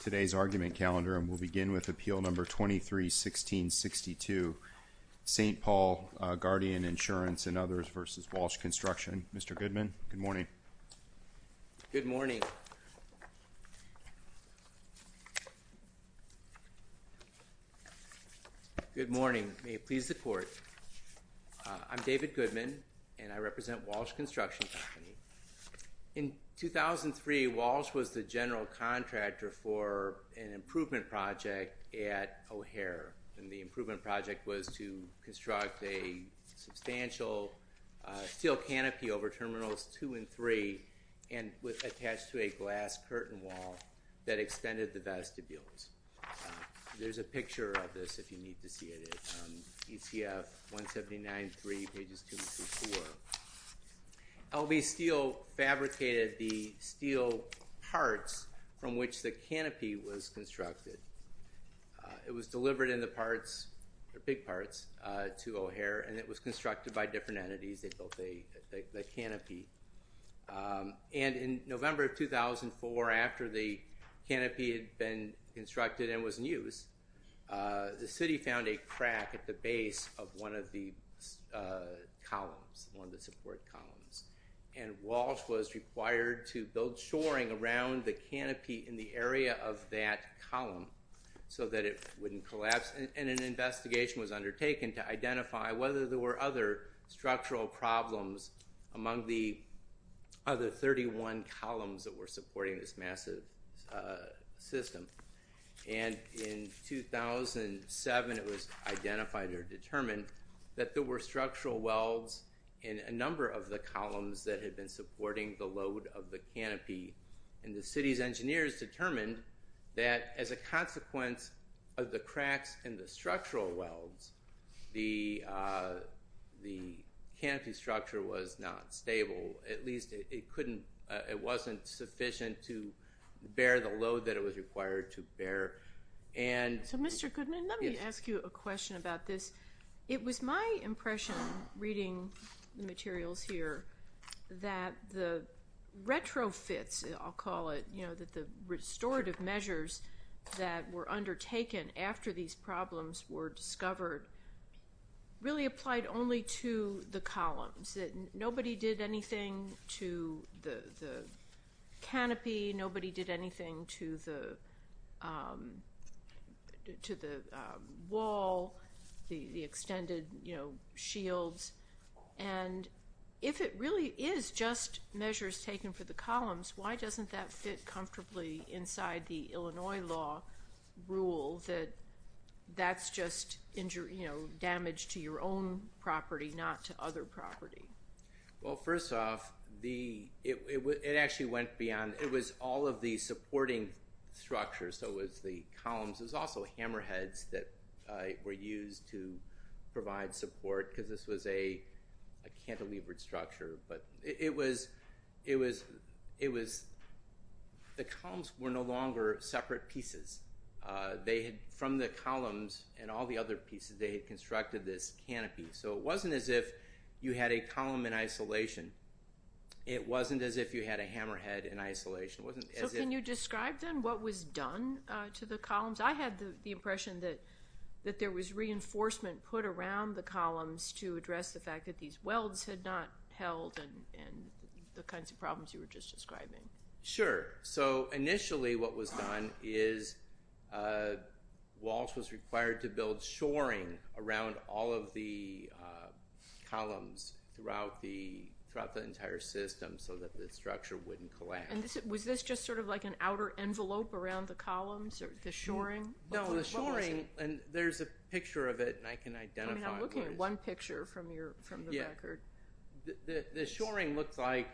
Today's argument calendar, and we'll begin with Appeal No. 23-1662, St. Paul Guardian Insurance and others v. Walsh Construction. Mr. Goodman, good morning. Good morning. Good morning. May it please the Court, I'm David Goodman, and I represent Walsh Construction Company. In 2003, Walsh was the general contractor for an improvement project at O'Hare, and the improvement project was to construct a substantial steel canopy over Terminals 2 and 3, and attached to a glass curtain wall that extended the vestibules. There's a picture of this if you need to see it, ETF 179-3, pages 2 and 3-4. LB Steel fabricated the steel parts from which the canopy was constructed. It was delivered in the parts, the big parts, to O'Hare, and it was constructed by different entities that built the canopy. And in November of 2004, after the canopy had been constructed and was in use, the City found a crack at the base of one of the columns, one of the support columns, and Walsh was required to build shoring around the canopy in the area of that column so that it wouldn't collapse, and an investigation was undertaken to identify whether there were other structural problems among the other 31 columns that were supporting this massive system. And in 2007, it was identified or determined that there were structural welds in a number of the columns that had been supporting the load of the canopy, and the City's engineers determined that as a consequence of the cracks in the structural welds, the canopy structure was not stable, at least it wasn't sufficient to bear the load that it was required to bear. So, Mr. Goodman, let me ask you a question about this. It was my impression, reading the materials here, that the retrofits, I'll call it, that the restorative measures that were undertaken after these problems were discovered really applied only to the columns, that nobody did anything to the canopy, nobody did anything to the wall, the extended shields, and if it really is just measures taken for the columns, why doesn't that fit comfortably inside the Illinois law rule that that's just damage to your own property, not to other property? Well, first off, it actually went beyond, it was all of the supporting structures, so it was the columns, it was also hammerheads that were used to provide support because this was a cantilevered structure, but it was, the columns were no longer separate pieces. They had, from the columns and all the other pieces, they had constructed this canopy, so it wasn't as if you had a column in isolation. It wasn't as if you had a hammerhead in isolation. So can you describe then what was done to the columns? I had the impression that there was reinforcement put around the columns to address the fact that these welds had not held and the kinds of problems you were just describing. Sure, so initially what was done is Walsh was required to build shoring around all of the columns throughout the entire system so that the structure wouldn't collapse. And was this just sort of like an outer envelope around the columns, the shoring? No, the shoring, and there's a picture of it and I can identify it. I'm looking at one picture from the record. The shoring looked like,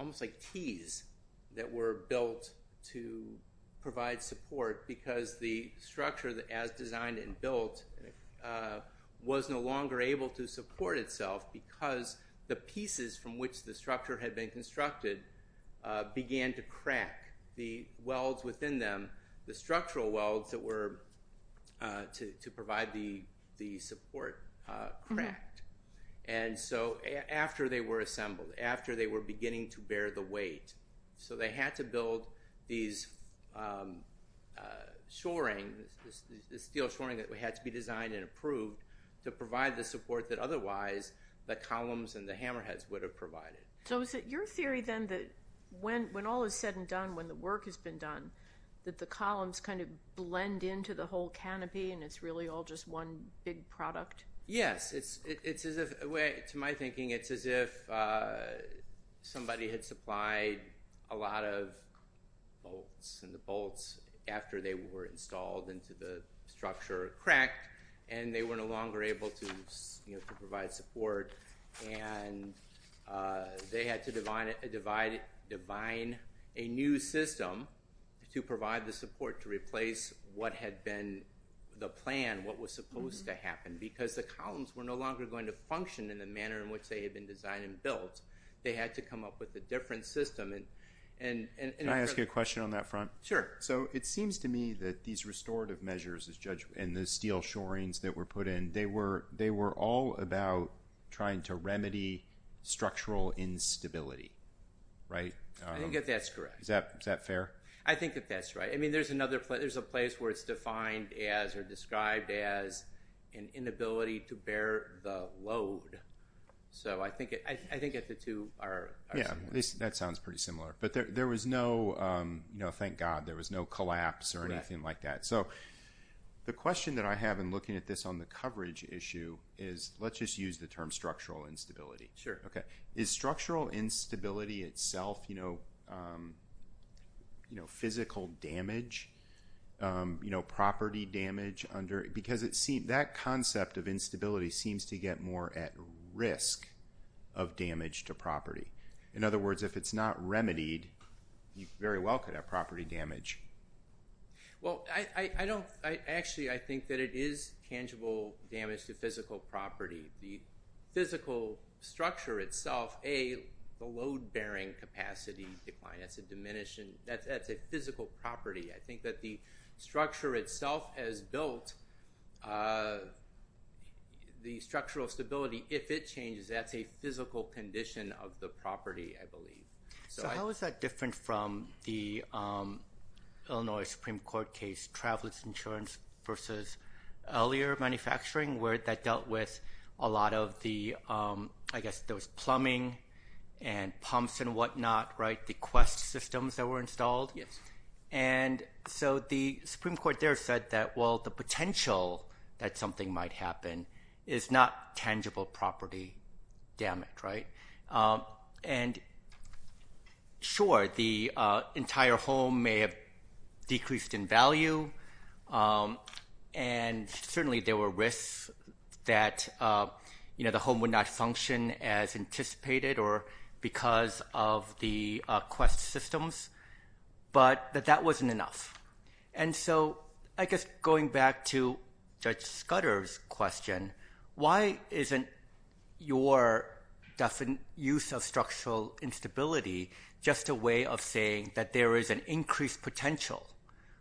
almost like tees that were built to provide support because the structure as designed and built was no longer able to support itself because the pieces from which the structure had been constructed began to crack. The welds within them, the structural welds that were to provide the support cracked. And so after they were assembled, after they were beginning to bear the weight, so they had to build these shoring, the steel shoring that had to be designed and approved to provide the support that otherwise the columns and the hammerheads would have provided. So is it your theory then that when all is said and done, when the work has been done, that the columns kind of blend into the whole canopy and it's really all just one big product? Yes, it's as if, to my thinking, it's as if somebody had supplied a lot of bolts and the bolts after they were installed into the structure cracked and they were no longer able to provide support and they had to divine a new system to provide the support to replace what had been the plan, what was supposed to happen because the columns were no longer going to function in the manner in which they had been designed and built. They had to come up with a different system. Can I ask you a question on that front? Sure. So it seems to me that these restorative measures and the steel shorings that were put in, they were all about trying to remedy structural instability, right? I think that that's correct. Is that fair? I think that that's right. I mean, there's a place where it's defined as or described as an inability to bear the load. So I think that the two are similar. Yeah, that sounds pretty similar. But there was no, thank God, there was no collapse or anything like that. So the question that I have in looking at this on the coverage issue is let's just use the term structural instability. Sure. Okay. Is structural instability itself, you know, physical damage, you know, property damage? Because that concept of instability seems to get more at risk of damage to property. In other words, if it's not remedied, you very well could have property damage. Well, I don't, I actually, I think that it is tangible damage to physical property. The physical structure itself, a, the load-bearing capacity decline, that's a diminishing, that's a physical property. I think that the structure itself has built the structural stability. If it changes, that's a physical condition of the property, I believe. So how is that different from the Illinois Supreme Court case, Travelers Insurance versus earlier manufacturing, where that dealt with a lot of the, I guess there was plumbing and pumps and whatnot, right, the Quest systems that were installed? Yes. And so the Supreme Court there said that, well, the potential that something might happen is not tangible property damage, right? And sure, the entire home may have decreased in value, and certainly there were risks that, you know, the home would not function as anticipated or because of the Quest systems, but that that wasn't enough. And so I guess going back to Judge Scudder's question, why isn't your use of structural instability just a way of saying that there is an increased potential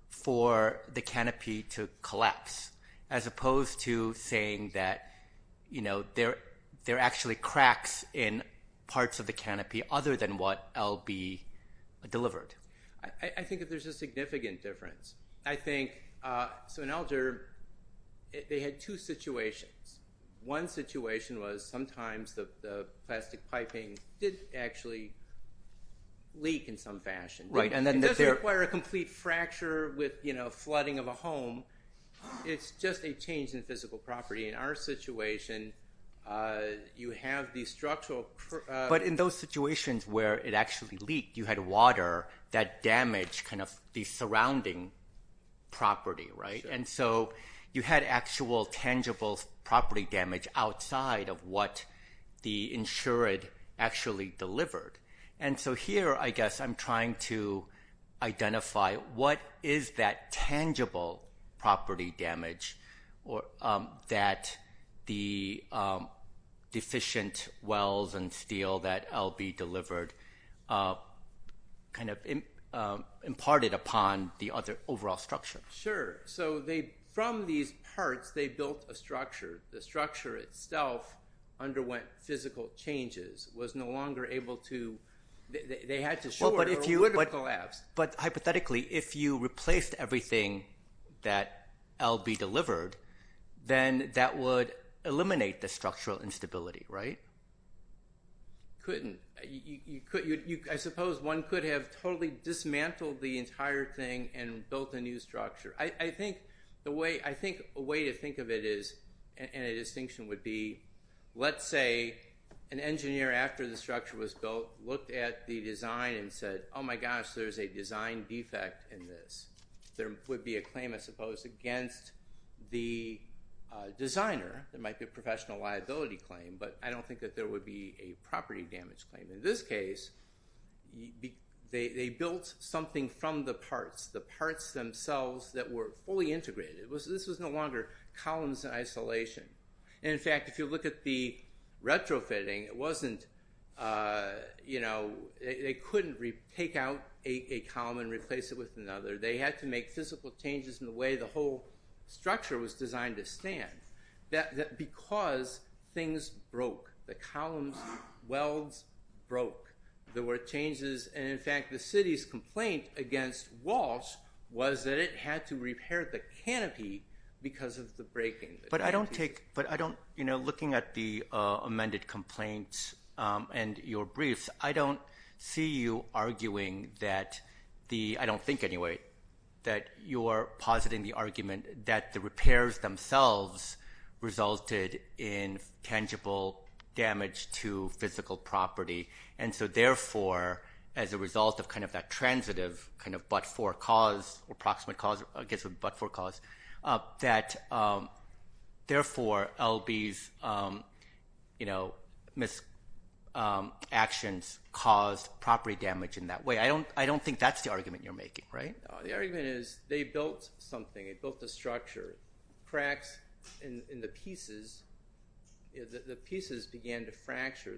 for the canopy to collapse, as opposed to saying that, you know, there are actually cracks in parts of the canopy other than what LB delivered? I think that there's a significant difference. I think, so in Alger, they had two situations. One situation was sometimes the plastic piping did actually leak in some fashion. Right. It doesn't require a complete fracture with, you know, flooding of a home. It's just a change in physical property. In our situation, you have the structural- Yeah, but in those situations where it actually leaked, you had water that damaged kind of the surrounding property, right? And so you had actual tangible property damage outside of what the insured actually delivered. And so here, I guess, I'm trying to identify what is that tangible property damage that the deficient wells and steel that LB delivered kind of imparted upon the other overall structure? Sure. So from these parts, they built a structure. The structure itself underwent physical changes, was no longer able to – they had to shore or it would have collapsed. But hypothetically, if you replaced everything that LB delivered, then that would eliminate the structural instability, right? Couldn't. I suppose one could have totally dismantled the entire thing and built a new structure. I think a way to think of it is, and a distinction would be, let's say an engineer after the structure was built looked at the design and said, oh, my gosh, there's a design defect in this. There would be a claim, I suppose, against the designer. There might be a professional liability claim, but I don't think that there would be a property damage claim. In this case, they built something from the parts, the parts themselves that were fully integrated. This was no longer columns in isolation. And in fact, if you look at the retrofitting, it wasn't – they couldn't take out a column and replace it with another. They had to make physical changes in the way the whole structure was designed to stand. Because things broke. The columns' welds broke. There were changes. And in fact, the city's complaint against Walsh was that it had to repair the canopy because of the breaking. But I don't take – but I don't – you know, looking at the amended complaints and your briefs, I don't see you arguing that the – I don't think, anyway, that you're positing the argument that the repairs themselves resulted in tangible damage to physical property. And so therefore, as a result of kind of that transitive kind of but-for cause or approximate cause – I guess it would be but-for cause – that therefore, L.B.'s mis-actions caused property damage in that way. I don't think that's the argument you're making, right? The argument is they built something. They built the structure. Cracks in the pieces – the pieces began to fracture.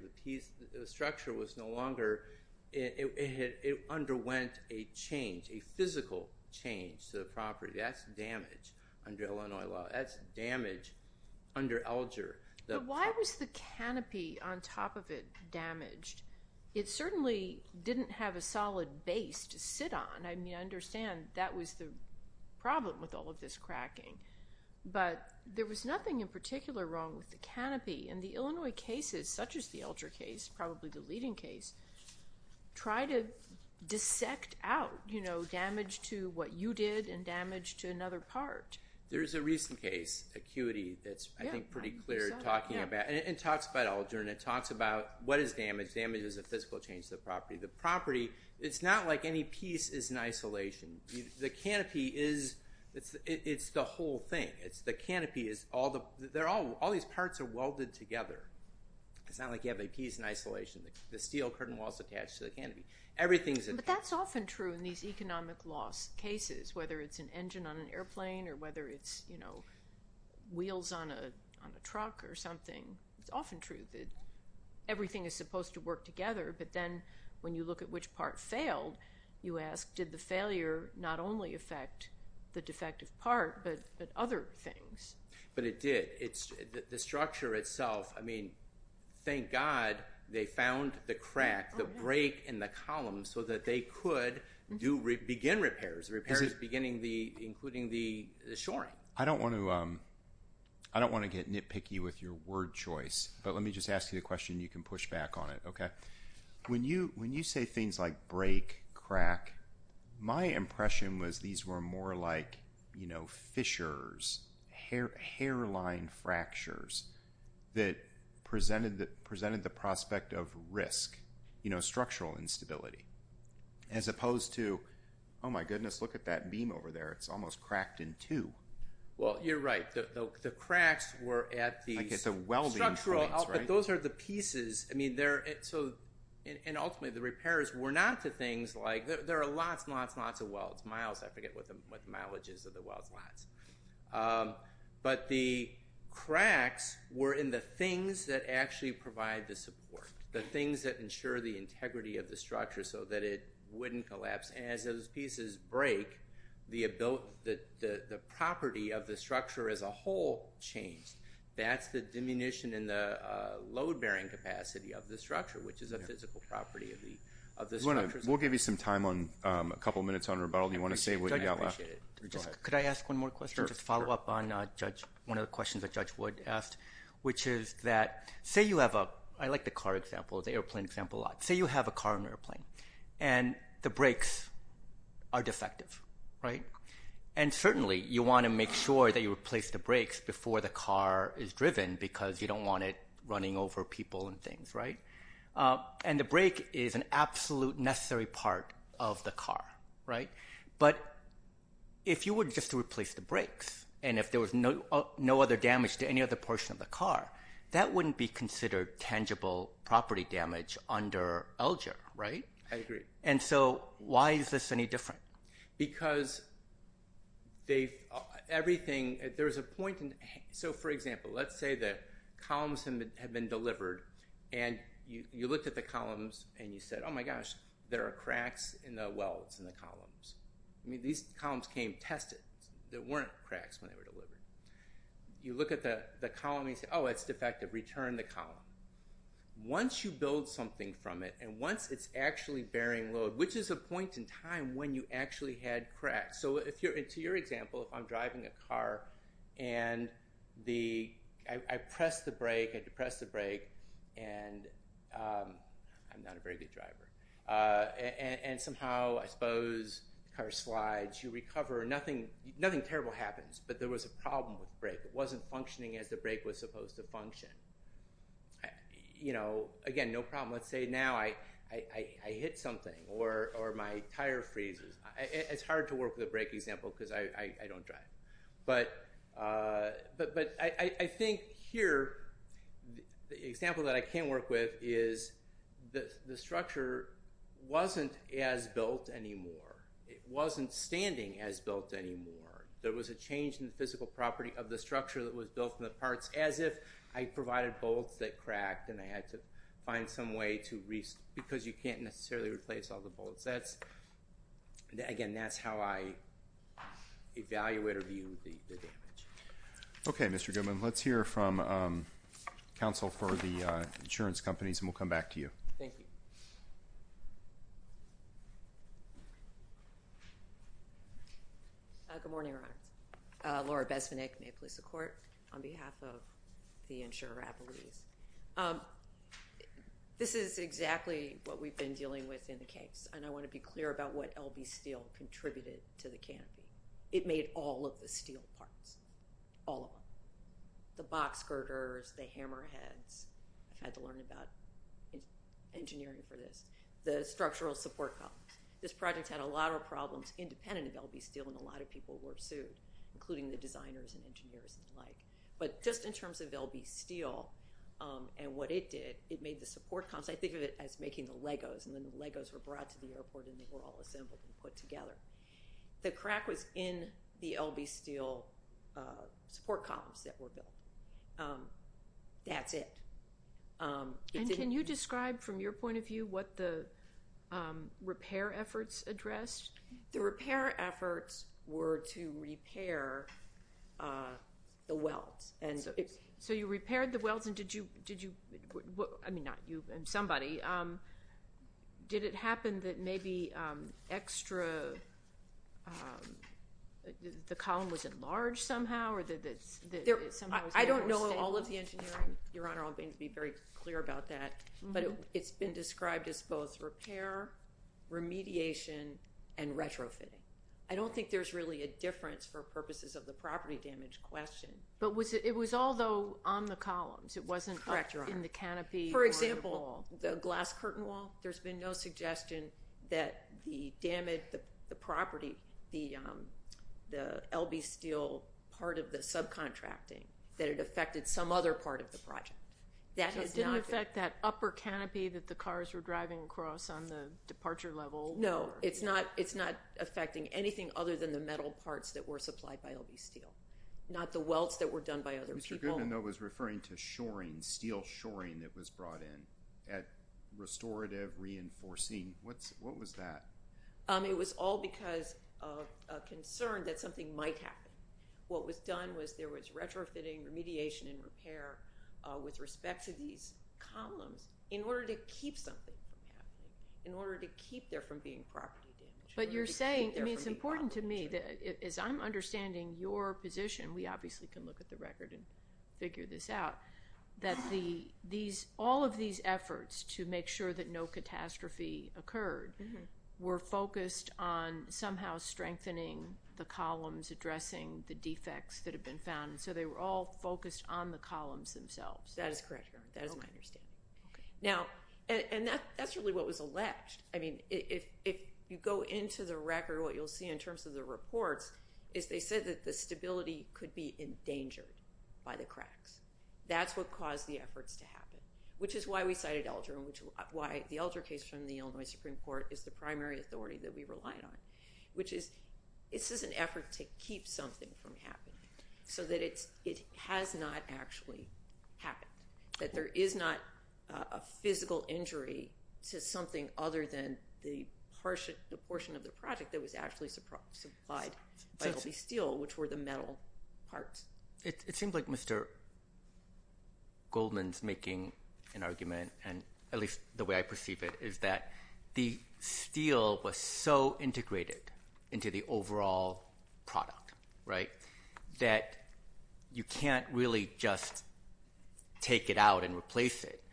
The structure was no longer – it underwent a change, a physical change to the property. That's damage under Illinois law. That's damage under Elger. But why was the canopy on top of it damaged? It certainly didn't have a solid base to sit on. And I mean, I understand that was the problem with all of this cracking. But there was nothing in particular wrong with the canopy. And the Illinois cases, such as the Elger case, probably the leading case, try to dissect out, you know, damage to what you did and damage to another part. There's a recent case, Acuity, that's, I think, pretty clear talking about – and it talks about Elger and it talks about what is damage. Damage is a physical change to the property. The property – it's not like any piece is in isolation. The canopy is – it's the whole thing. The canopy is – all these parts are welded together. It's not like you have a piece in isolation. The steel curtain wall is attached to the canopy. Everything is – But that's often true in these economic loss cases, whether it's an engine on an airplane or whether it's, you know, wheels on a truck or something. It's often true that everything is supposed to work together. But then when you look at which part failed, you ask, did the failure not only affect the defective part but other things? But it did. The structure itself – I mean, thank God they found the crack, the break in the column, so that they could do – begin repairs. Repairs beginning the – including the shoring. I don't want to get nitpicky with your word choice. But let me just ask you the question. You can push back on it, okay? When you say things like break, crack, my impression was these were more like, you know, fissures, hairline fractures that presented the prospect of risk, you know, structural instability. As opposed to, oh, my goodness, look at that beam over there. It's almost cracked in two. Well, you're right. The cracks were at the – Like at the welding points, right? Structural – but those are the pieces. I mean, they're – and ultimately the repairs were not to things like – there are lots and lots and lots of welds. Miles, I forget what the mileage is of the welds. But the cracks were in the things that actually provide the support, the things that ensure the integrity of the structure so that it wouldn't collapse. And as those pieces break, the property of the structure as a whole changed. That's the diminution in the load-bearing capacity of the structure, which is a physical property of the structure. We'll give you some time on – a couple minutes on rebuttal if you want to say what you got left. I appreciate it. Go ahead. Could I ask one more question? Sure. Just to follow up on one of the questions that Judge Wood asked, which is that say you have a – I like the car example, the airplane example a lot. Say you have a car and airplane, and the brakes are defective, right? And certainly you want to make sure that you replace the brakes before the car is driven because you don't want it running over people and things, right? And the brake is an absolute necessary part of the car, right? But if you were just to replace the brakes and if there was no other damage to any other portion of the car, that wouldn't be considered tangible property damage under LGER, right? I agree. And so why is this any different? Because they've – everything – there's a point in – so for example, let's say that columns have been delivered and you looked at the columns and you said, oh my gosh, there are cracks in the welds in the columns. I mean these columns came tested. There weren't cracks when they were delivered. You look at the column and you say, oh, it's defective. Return the column. Once you build something from it and once it's actually bearing load, which is a point in time when you actually had cracks. So to your example, if I'm driving a car and I press the brake, I depress the brake, and – I'm not a very good driver – and somehow I suppose the car slides, you recover. Nothing terrible happens, but there was a problem with the brake. It wasn't functioning as the brake was supposed to function. Again, no problem. Let's say now I hit something or my tire freezes. It's hard to work with a brake example because I don't drive. But I think here the example that I can work with is the structure wasn't as built anymore. It wasn't standing as built anymore. There was a change in the physical property of the structure that was built from the parts as if I provided bolts that cracked and I had to find some way to – because you can't necessarily replace all the bolts. Again, that's how I evaluate or view the damage. Okay, Mr. Goodman. Let's hear from counsel for the insurance companies and we'll come back to you. Thank you. Good morning, Your Honor. Laura Besvinick, Maple Leaf Support, on behalf of the insurer Applebee's. This is exactly what we've been dealing with in the case, and I want to be clear about what L.B. Steel contributed to the canopy. It made all of the steel parts, all of them, the box girders, the hammerheads. I've had to learn about engineering for this. The structural support columns. This project had a lot of problems independent of L.B. Steel and a lot of people were sued, including the designers and engineers and the like. But just in terms of L.B. Steel and what it did, it made the support columns. I think of it as making the Legos, and then the Legos were brought to the airport and they were all assembled and put together. The crack was in the L.B. Steel support columns that were built. That's it. And can you describe from your point of view what the repair efforts addressed? The repair efforts were to repair the welds. So you repaired the welds and did you, I mean not you, somebody, did it happen that maybe extra, the column was enlarged somehow? I don't know all of the engineering, Your Honor. I'm going to be very clear about that. But it's been described as both repair, remediation, and retrofitting. I don't think there's really a difference for purposes of the property damage question. But it was all, though, on the columns. It wasn't in the canopy or on the wall. The glass curtain wall, there's been no suggestion that the damage, the property, the L.B. Steel part of the subcontracting, that it affected some other part of the project. It didn't affect that upper canopy that the cars were driving across on the departure level? No, it's not affecting anything other than the metal parts that were supplied by L.B. Steel. Not the welds that were done by other people. Mr. Goodman, though, was referring to shoring, steel shoring that was brought in at restorative reinforcing. What was that? It was all because of a concern that something might happen. What was done was there was retrofitting, remediation, and repair with respect to these columns in order to keep something from happening, in order to keep there from being property damage. But you're saying, I mean, it's important to me, as I'm understanding your position, we obviously can look at the record and figure this out, that all of these efforts to make sure that no catastrophe occurred were focused on somehow strengthening the columns, addressing the defects that have been found. So they were all focused on the columns themselves. That is correct, Your Honor. That is my understanding. And that's really what was alleged. I mean, if you go into the record, what you'll see in terms of the reports is they said that the stability could be endangered by the cracks. That's what caused the efforts to happen, which is why we cited Elger and why the Elger case from the Illinois Supreme Court is the primary authority that we relied on, which is this is an effort to keep something from happening so that it has not actually happened. That there is not a physical injury to something other than the portion of the project that was actually supplied by L.B. Steele, which were the metal parts. It seems like Mr. Goldman's making an argument, at least the way I perceive it, is that the steel was so integrated into the overall product, right, that you can't really just take it out and replace it.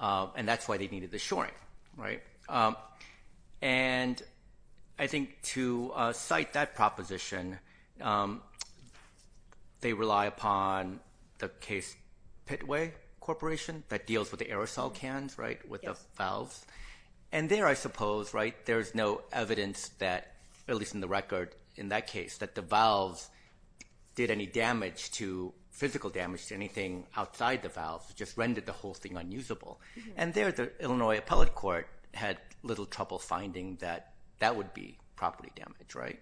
And that's why they needed the shoring, right? And I think to cite that proposition, they rely upon the Case-Pittway Corporation that deals with the aerosol cans, right, with the valves. And there, I suppose, right, there's no evidence that, at least in the record in that case, that the valves did any physical damage to anything outside the valves. It just rendered the whole thing unusable. And there, the Illinois Appellate Court had little trouble finding that that would be property damage, right?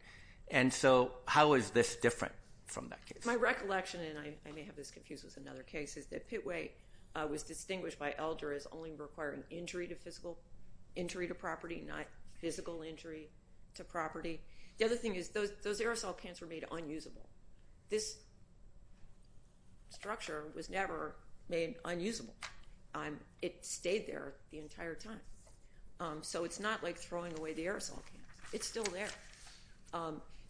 And so how is this different from that case? My recollection, and I may have this confused with another case, is that Pittway was distinguished by Elger as only requiring injury to property, not physical injury to property. The other thing is those aerosol cans were made unusable. This structure was never made unusable. It stayed there the entire time. So it's not like throwing away the aerosol cans. It's still there.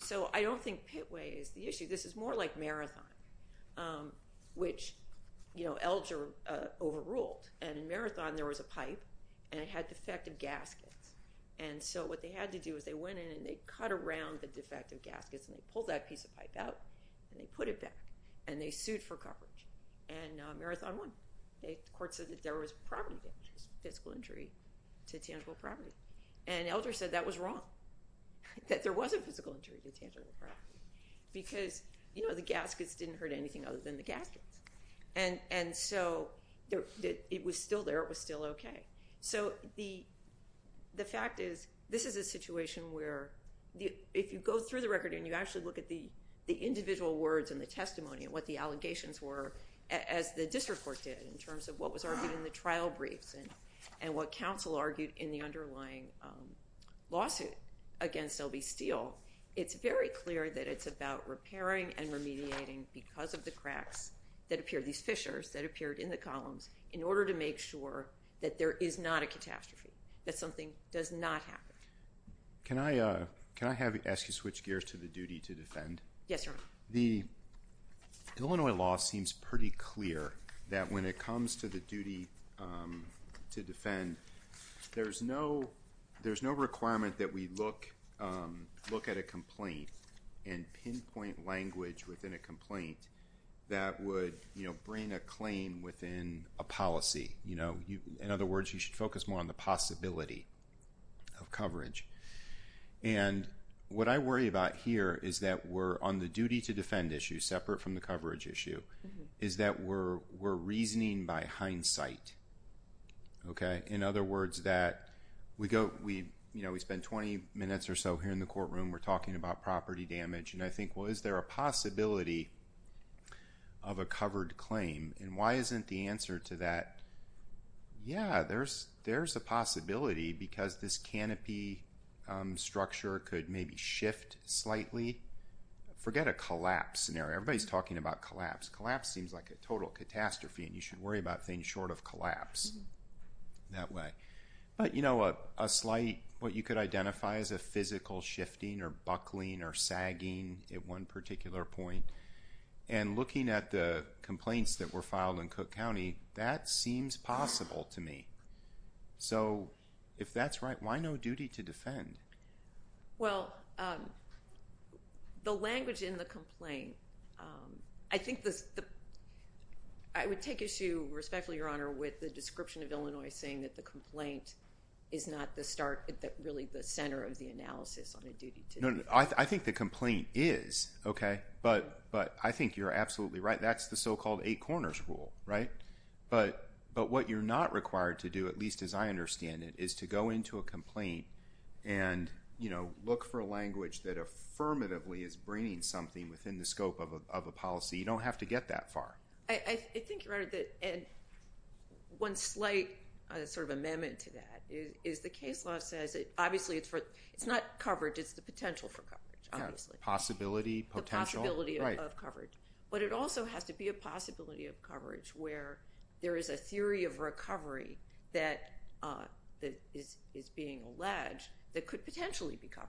So I don't think Pittway is the issue. This is more like Marathon, which, you know, Elger overruled. And in Marathon, there was a pipe, and it had defective gaskets. And so what they had to do is they went in, and they cut around the defective gaskets, and they pulled that piece of pipe out, and they put it back, and they sued for coverage. And Marathon won. The court said that there was property damage, physical injury to tangible property. And Elger said that was wrong, that there was a physical injury to tangible property because, you know, the gaskets didn't hurt anything other than the gaskets. And so it was still there. It was still okay. So the fact is this is a situation where if you go through the record and you actually look at the individual words and the testimony and what the allegations were, as the district court did in terms of what was argued in the trial briefs and what counsel argued in the underlying lawsuit against L.B. Steele, it's very clear that it's about repairing and remediating because of the cracks that appeared, these fissures that appeared in the columns, in order to make sure that there is not a catastrophe, that something does not happen. Can I ask you to switch gears to the duty to defend? Yes, sir. The Illinois law seems pretty clear that when it comes to the duty to defend, there's no requirement that we look at a complaint and pinpoint language within a complaint that would, you know, bring a claim within a policy. You know, in other words, you should focus more on the possibility of coverage. And what I worry about here is that we're on the duty to defend issue, separate from the coverage issue, is that we're reasoning by hindsight. Okay? In other words, that we go, you know, we spend 20 minutes or so here in the courtroom. We're talking about property damage. And I think, well, is there a possibility of a covered claim? And why isn't the answer to that, yeah, there's a possibility because this canopy structure could maybe shift slightly. Forget a collapse scenario. Everybody's talking about collapse. Collapse seems like a total catastrophe and you should worry about things short of collapse that way. But, you know, a slight, what you could identify as a physical shifting or buckling or sagging at one particular point. And looking at the complaints that were filed in Cook County, that seems possible to me. So if that's right, why no duty to defend? Well, the language in the complaint, I think the, I would take issue respectfully, Your Honor, with the description of Illinois saying that the complaint is not the start, really the center of the analysis on a duty to defend. I think the complaint is, okay, but I think you're absolutely right. That's the so-called eight corners rule, right? But what you're not required to do, at least as I understand it, is to go into a complaint and, you know, look for a language that affirmatively is bringing something within the scope of a policy. You don't have to get that far. I think, Your Honor, that one slight sort of amendment to that is the case law says, obviously, it's not coverage, it's the potential for coverage, obviously. Possibility, potential. The possibility of coverage. But it also has to be a possibility of coverage where there is a theory of recovery that is being alleged that could potentially be covered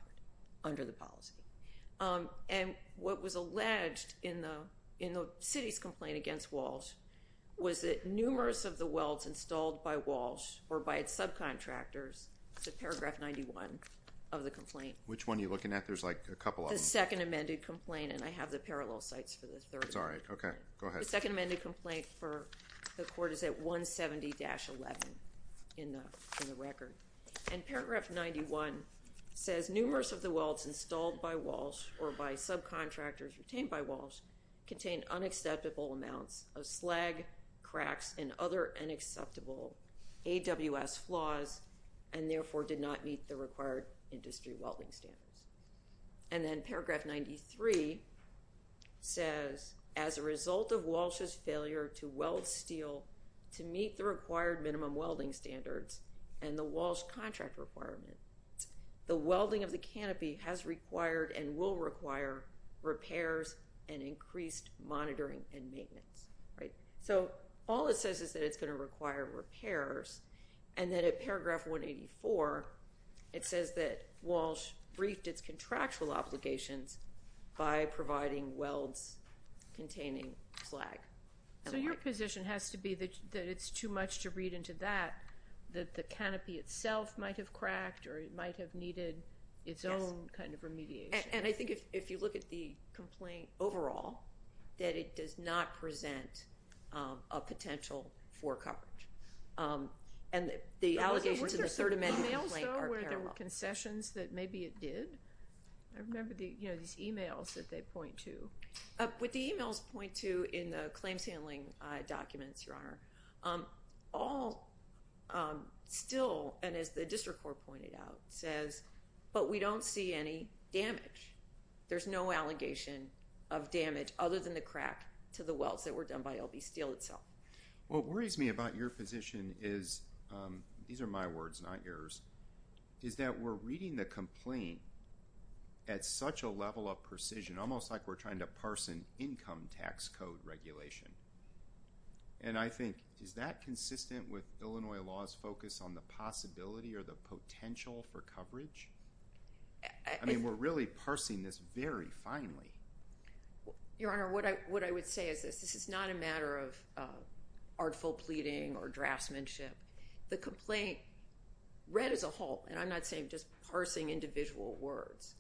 under the policy. And what was alleged in the city's complaint against Walsh was that numerous of the welds installed by Walsh or by its subcontractors, it's in paragraph 91 of the complaint. Which one are you looking at? There's like a couple of them. The second amended complaint, and I have the parallel sites for the third one. Okay. Go ahead. The second amended complaint for the court is at 170-11 in the record. And paragraph 91 says, numerous of the welds installed by Walsh or by subcontractors retained by Walsh contained unacceptable amounts of slag, cracks, and other unacceptable AWS flaws and, therefore, did not meet the required industry welding standards. And then paragraph 93 says, as a result of Walsh's failure to weld steel to meet the required minimum welding standards and the Walsh contract requirement, the welding of the canopy has required and will require repairs and increased monitoring and maintenance. Right? So all it says is that it's going to require repairs. And then at paragraph 184, it says that Walsh briefed its contractual obligations by providing welds containing slag. So your position has to be that it's too much to read into that, that the canopy itself might have cracked or it might have needed its own kind of remediation. And I think if you look at the complaint overall, that it does not present a potential for coverage. And the allegations in the third amended complaint are parallel. Were there emails, though, where there were concessions that maybe it did? I remember these emails that they point to. What the emails point to in the claims handling documents, Your Honor, all still, and as the district court pointed out, says, but we don't see any damage. There's no allegation of damage other than the crack to the welds that were done by LB Steel itself. What worries me about your position is, these are my words, not yours, is that we're reading the complaint at such a level of precision, almost like we're trying to parse an income tax code regulation. And I think, is that consistent with Illinois law's focus on the possibility or the potential for coverage? I mean, we're really parsing this very finely. Your Honor, what I would say is this. This is not a matter of artful pleading or draftsmanship. The complaint, read as a whole, and I'm not saying just parsing individual words,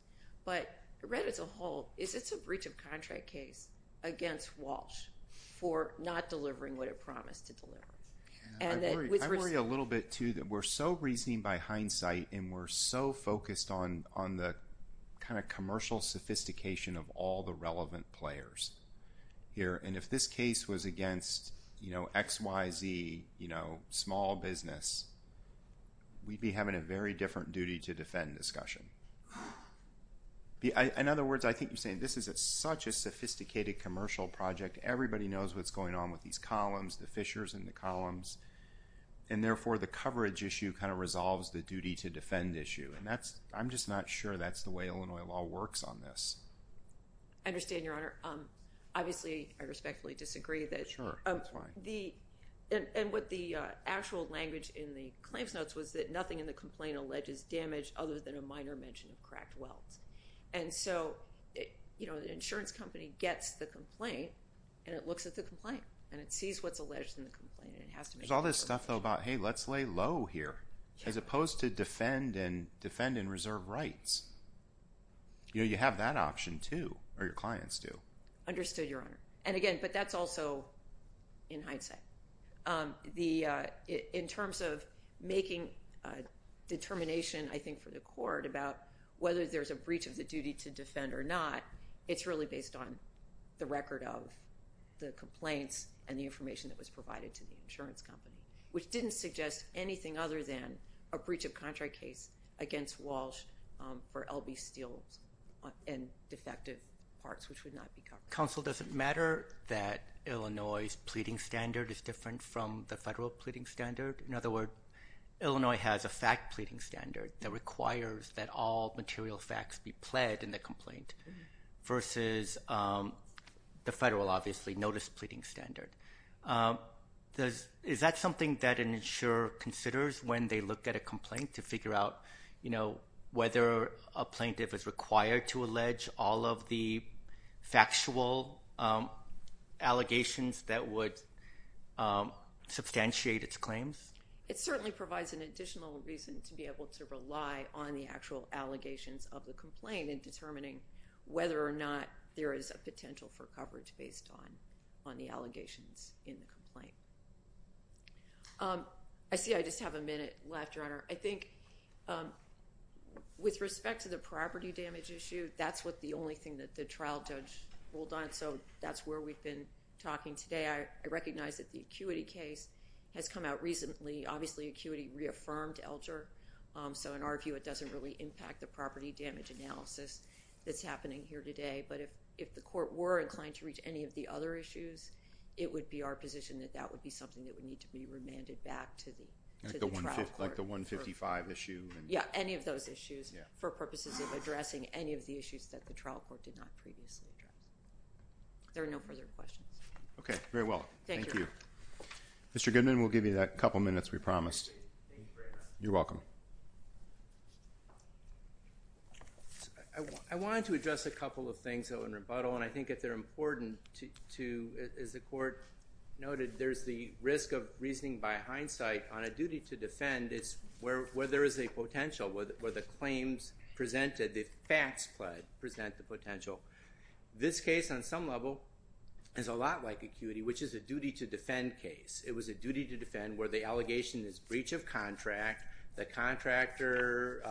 but read as a whole, is it's a breach of contract case against Walsh for not delivering what it promised to deliver. I worry a little bit, too, that we're so reasoning by hindsight and we're so focused on the kind of commercial sophistication of all the relevant players here. And if this case was against, you know, XYZ, you know, small business, we'd be having a very different duty to defend discussion. In other words, I think you're saying this is such a sophisticated commercial project. Everybody knows what's going on with these columns, the fissures in the columns. And therefore, the coverage issue kind of resolves the duty to defend issue. And I'm just not sure that's the way Illinois law works on this. I understand, Your Honor. Sure, that's fine. And what the actual language in the claims notes was that nothing in the complaint alleges damage other than a minor mention of cracked welds. And so, you know, the insurance company gets the complaint and it looks at the complaint and it sees what's alleged in the complaint. There's all this stuff, though, about, hey, let's lay low here as opposed to defend and defend and reserve rights. You know, you have that option, too, or your clients do. Understood, Your Honor. And again, but that's also in hindsight. In terms of making a determination, I think, for the court about whether there's a breach of the duty to defend or not, it's really based on the record of the complaints and the information that was provided to the insurance company, which didn't suggest anything other than a breach of contract case against Walsh for LB steel and defective parts, which would not be covered. Counsel, does it matter that Illinois' pleading standard is different from the federal pleading standard? In other words, Illinois has a fact pleading standard that requires that all material facts be pled in the complaint versus the federal, obviously, notice pleading standard. Is that something that an insurer considers when they look at a complaint to figure out, you know, whether a plaintiff is required to allege all of the factual allegations that would substantiate its claims? It certainly provides an additional reason to be able to rely on the actual allegations of the complaint in determining whether or not there is a potential for coverage based on the allegations in the complaint. I see I just have a minute left, Your Honor. I think with respect to the property damage issue, that's the only thing that the trial judge ruled on, so that's where we've been talking today. I recognize that the acuity case has come out recently. Obviously, acuity reaffirmed Elger, so in our view, it doesn't really impact the property damage analysis that's happening here today, but if the court were inclined to reach any of the other issues, it would be our position that that would be something that would need to be remanded back to the trial court. Like the 155 issue? Yeah, any of those issues for purposes of addressing any of the issues that the trial court did not previously address. There are no further questions. Okay, very well. Thank you. Mr. Goodman, we'll give you that couple minutes we promised. Thank you very much. You're welcome. I wanted to address a couple of things in rebuttal, and I think if they're important to, as the court noted, there's the risk of reasoning by hindsight on a duty to defend is where there is a potential, where the claims presented, the facts present the potential. This case, on some level, is a lot like acuity, which is a duty to defend case. It was a duty to defend where the allegation is breach of contract, the contractor,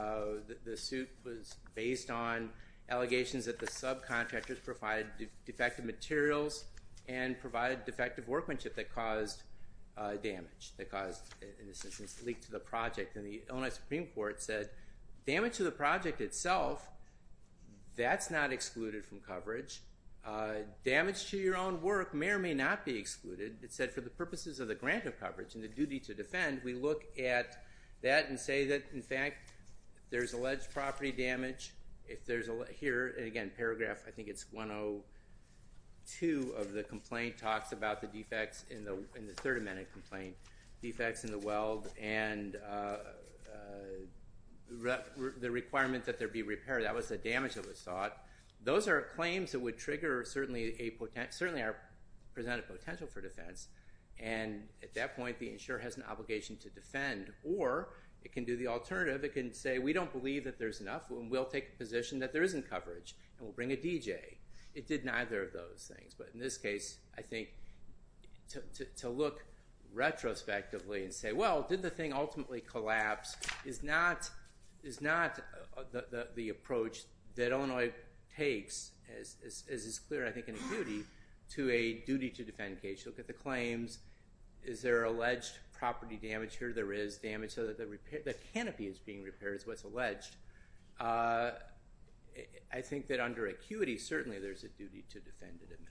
the suit was based on allegations that the subcontractors provided defective materials and provided defective workmanship that caused damage, that caused, in this instance, leak to the project. And the Illinois Supreme Court said damage to the project itself, that's not excluded from coverage. Damage to your own work may or may not be excluded. It said for the purposes of the grant of coverage and the duty to defend, we look at that and say that, in fact, there's alleged property damage. Here, again, paragraph, I think it's 102 of the complaint talks about the defects in the Third Amendment complaint, defects in the weld, and the requirement that there be repair. That was the damage that was sought. Those are claims that would trigger certainly a presented potential for defense, and at that point the insurer has an obligation to defend. Or it can do the alternative. It can say we don't believe that there's enough, and we'll take a position that there isn't coverage, and we'll bring a DJ. It did neither of those things. But in this case, I think to look retrospectively and say, well, did the thing ultimately collapse, is not the approach that Illinois takes, as is clear, I think, in acuity, to a duty to defend case. Look at the claims. Is there alleged property damage? Here there is damage. So the canopy is being repaired is what's alleged. I think that under acuity certainly there's a duty to defend at a minimum.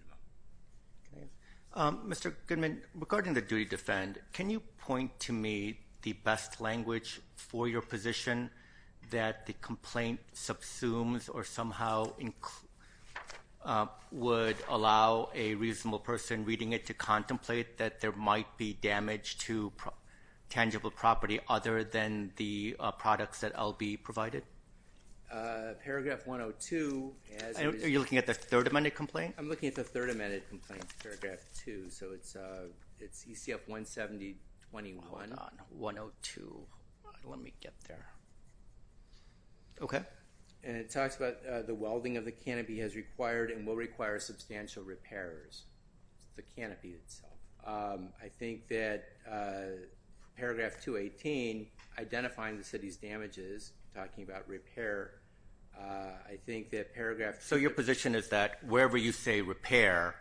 Mr. Goodman, regarding the duty to defend, can you point to me the best language for your position that the complaint subsumes or somehow would allow a reasonable person reading it to contemplate that there might be damage to tangible property other than the products that LB provided? Paragraph 102. Are you looking at the third amended complaint? I'm looking at the third amended complaint, paragraph 2. So it's ECF 170.21. Hold on. 102. Let me get there. Okay. And it talks about the welding of the canopy has required and will require substantial repairs to the canopy itself. I think that paragraph 218, identifying the city's damages, talking about repair, I think that paragraph So your position is that wherever you say repair,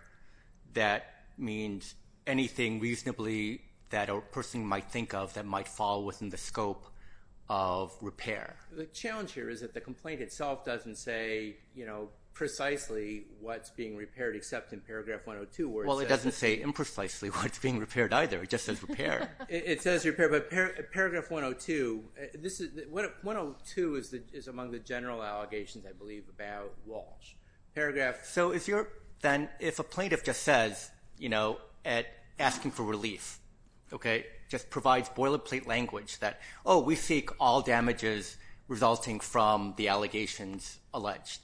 that means anything reasonably that a person might think of that might fall within the scope of repair? The challenge here is that the complaint itself doesn't say precisely what's being repaired except in paragraph 102. Well, it doesn't say imprecisely what's being repaired either. It just says repair. It says repair, but paragraph 102. 102 is among the general allegations, I believe, about Walsh. So if a plaintiff just says, you know, asking for relief, okay, just provides boilerplate language that, oh, we seek all damages resulting from the allegations alleged,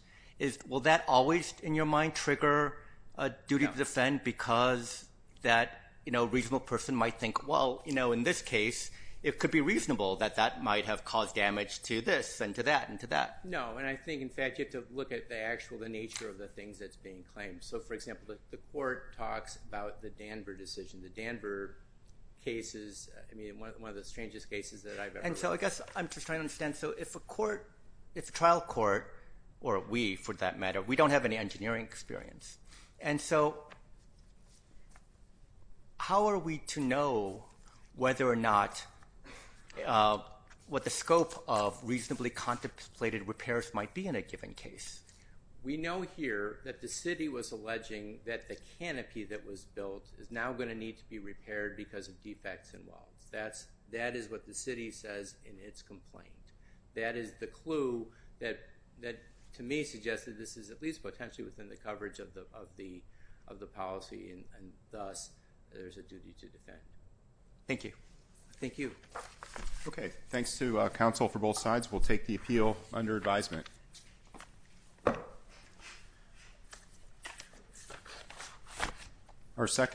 will that always, in your mind, trigger a duty to defend because that reasonable person might think, well, in this case, it could be reasonable that that might have caused damage to this and to that and to that. No, and I think, in fact, you have to look at the actual nature of the things that's being claimed. So, for example, the court talks about the Danver decision. The Danver case is one of the strangest cases that I've ever heard. And so I guess I'm just trying to understand. And so if a court, if a trial court, or we, for that matter, we don't have any engineering experience, and so how are we to know whether or not what the scope of reasonably contemplated repairs might be in a given case? We know here that the city was alleging that the canopy that was built is now going to need to be repaired because of defects in Walsh. That is what the city says in its complaint. That is the clue that, to me, suggests that this is at least potentially within the coverage of the policy, and thus there's a duty to defend. Thank you. Thank you. Okay. Thanks to counsel for both sides. We'll take the appeal under advisement. Thank you.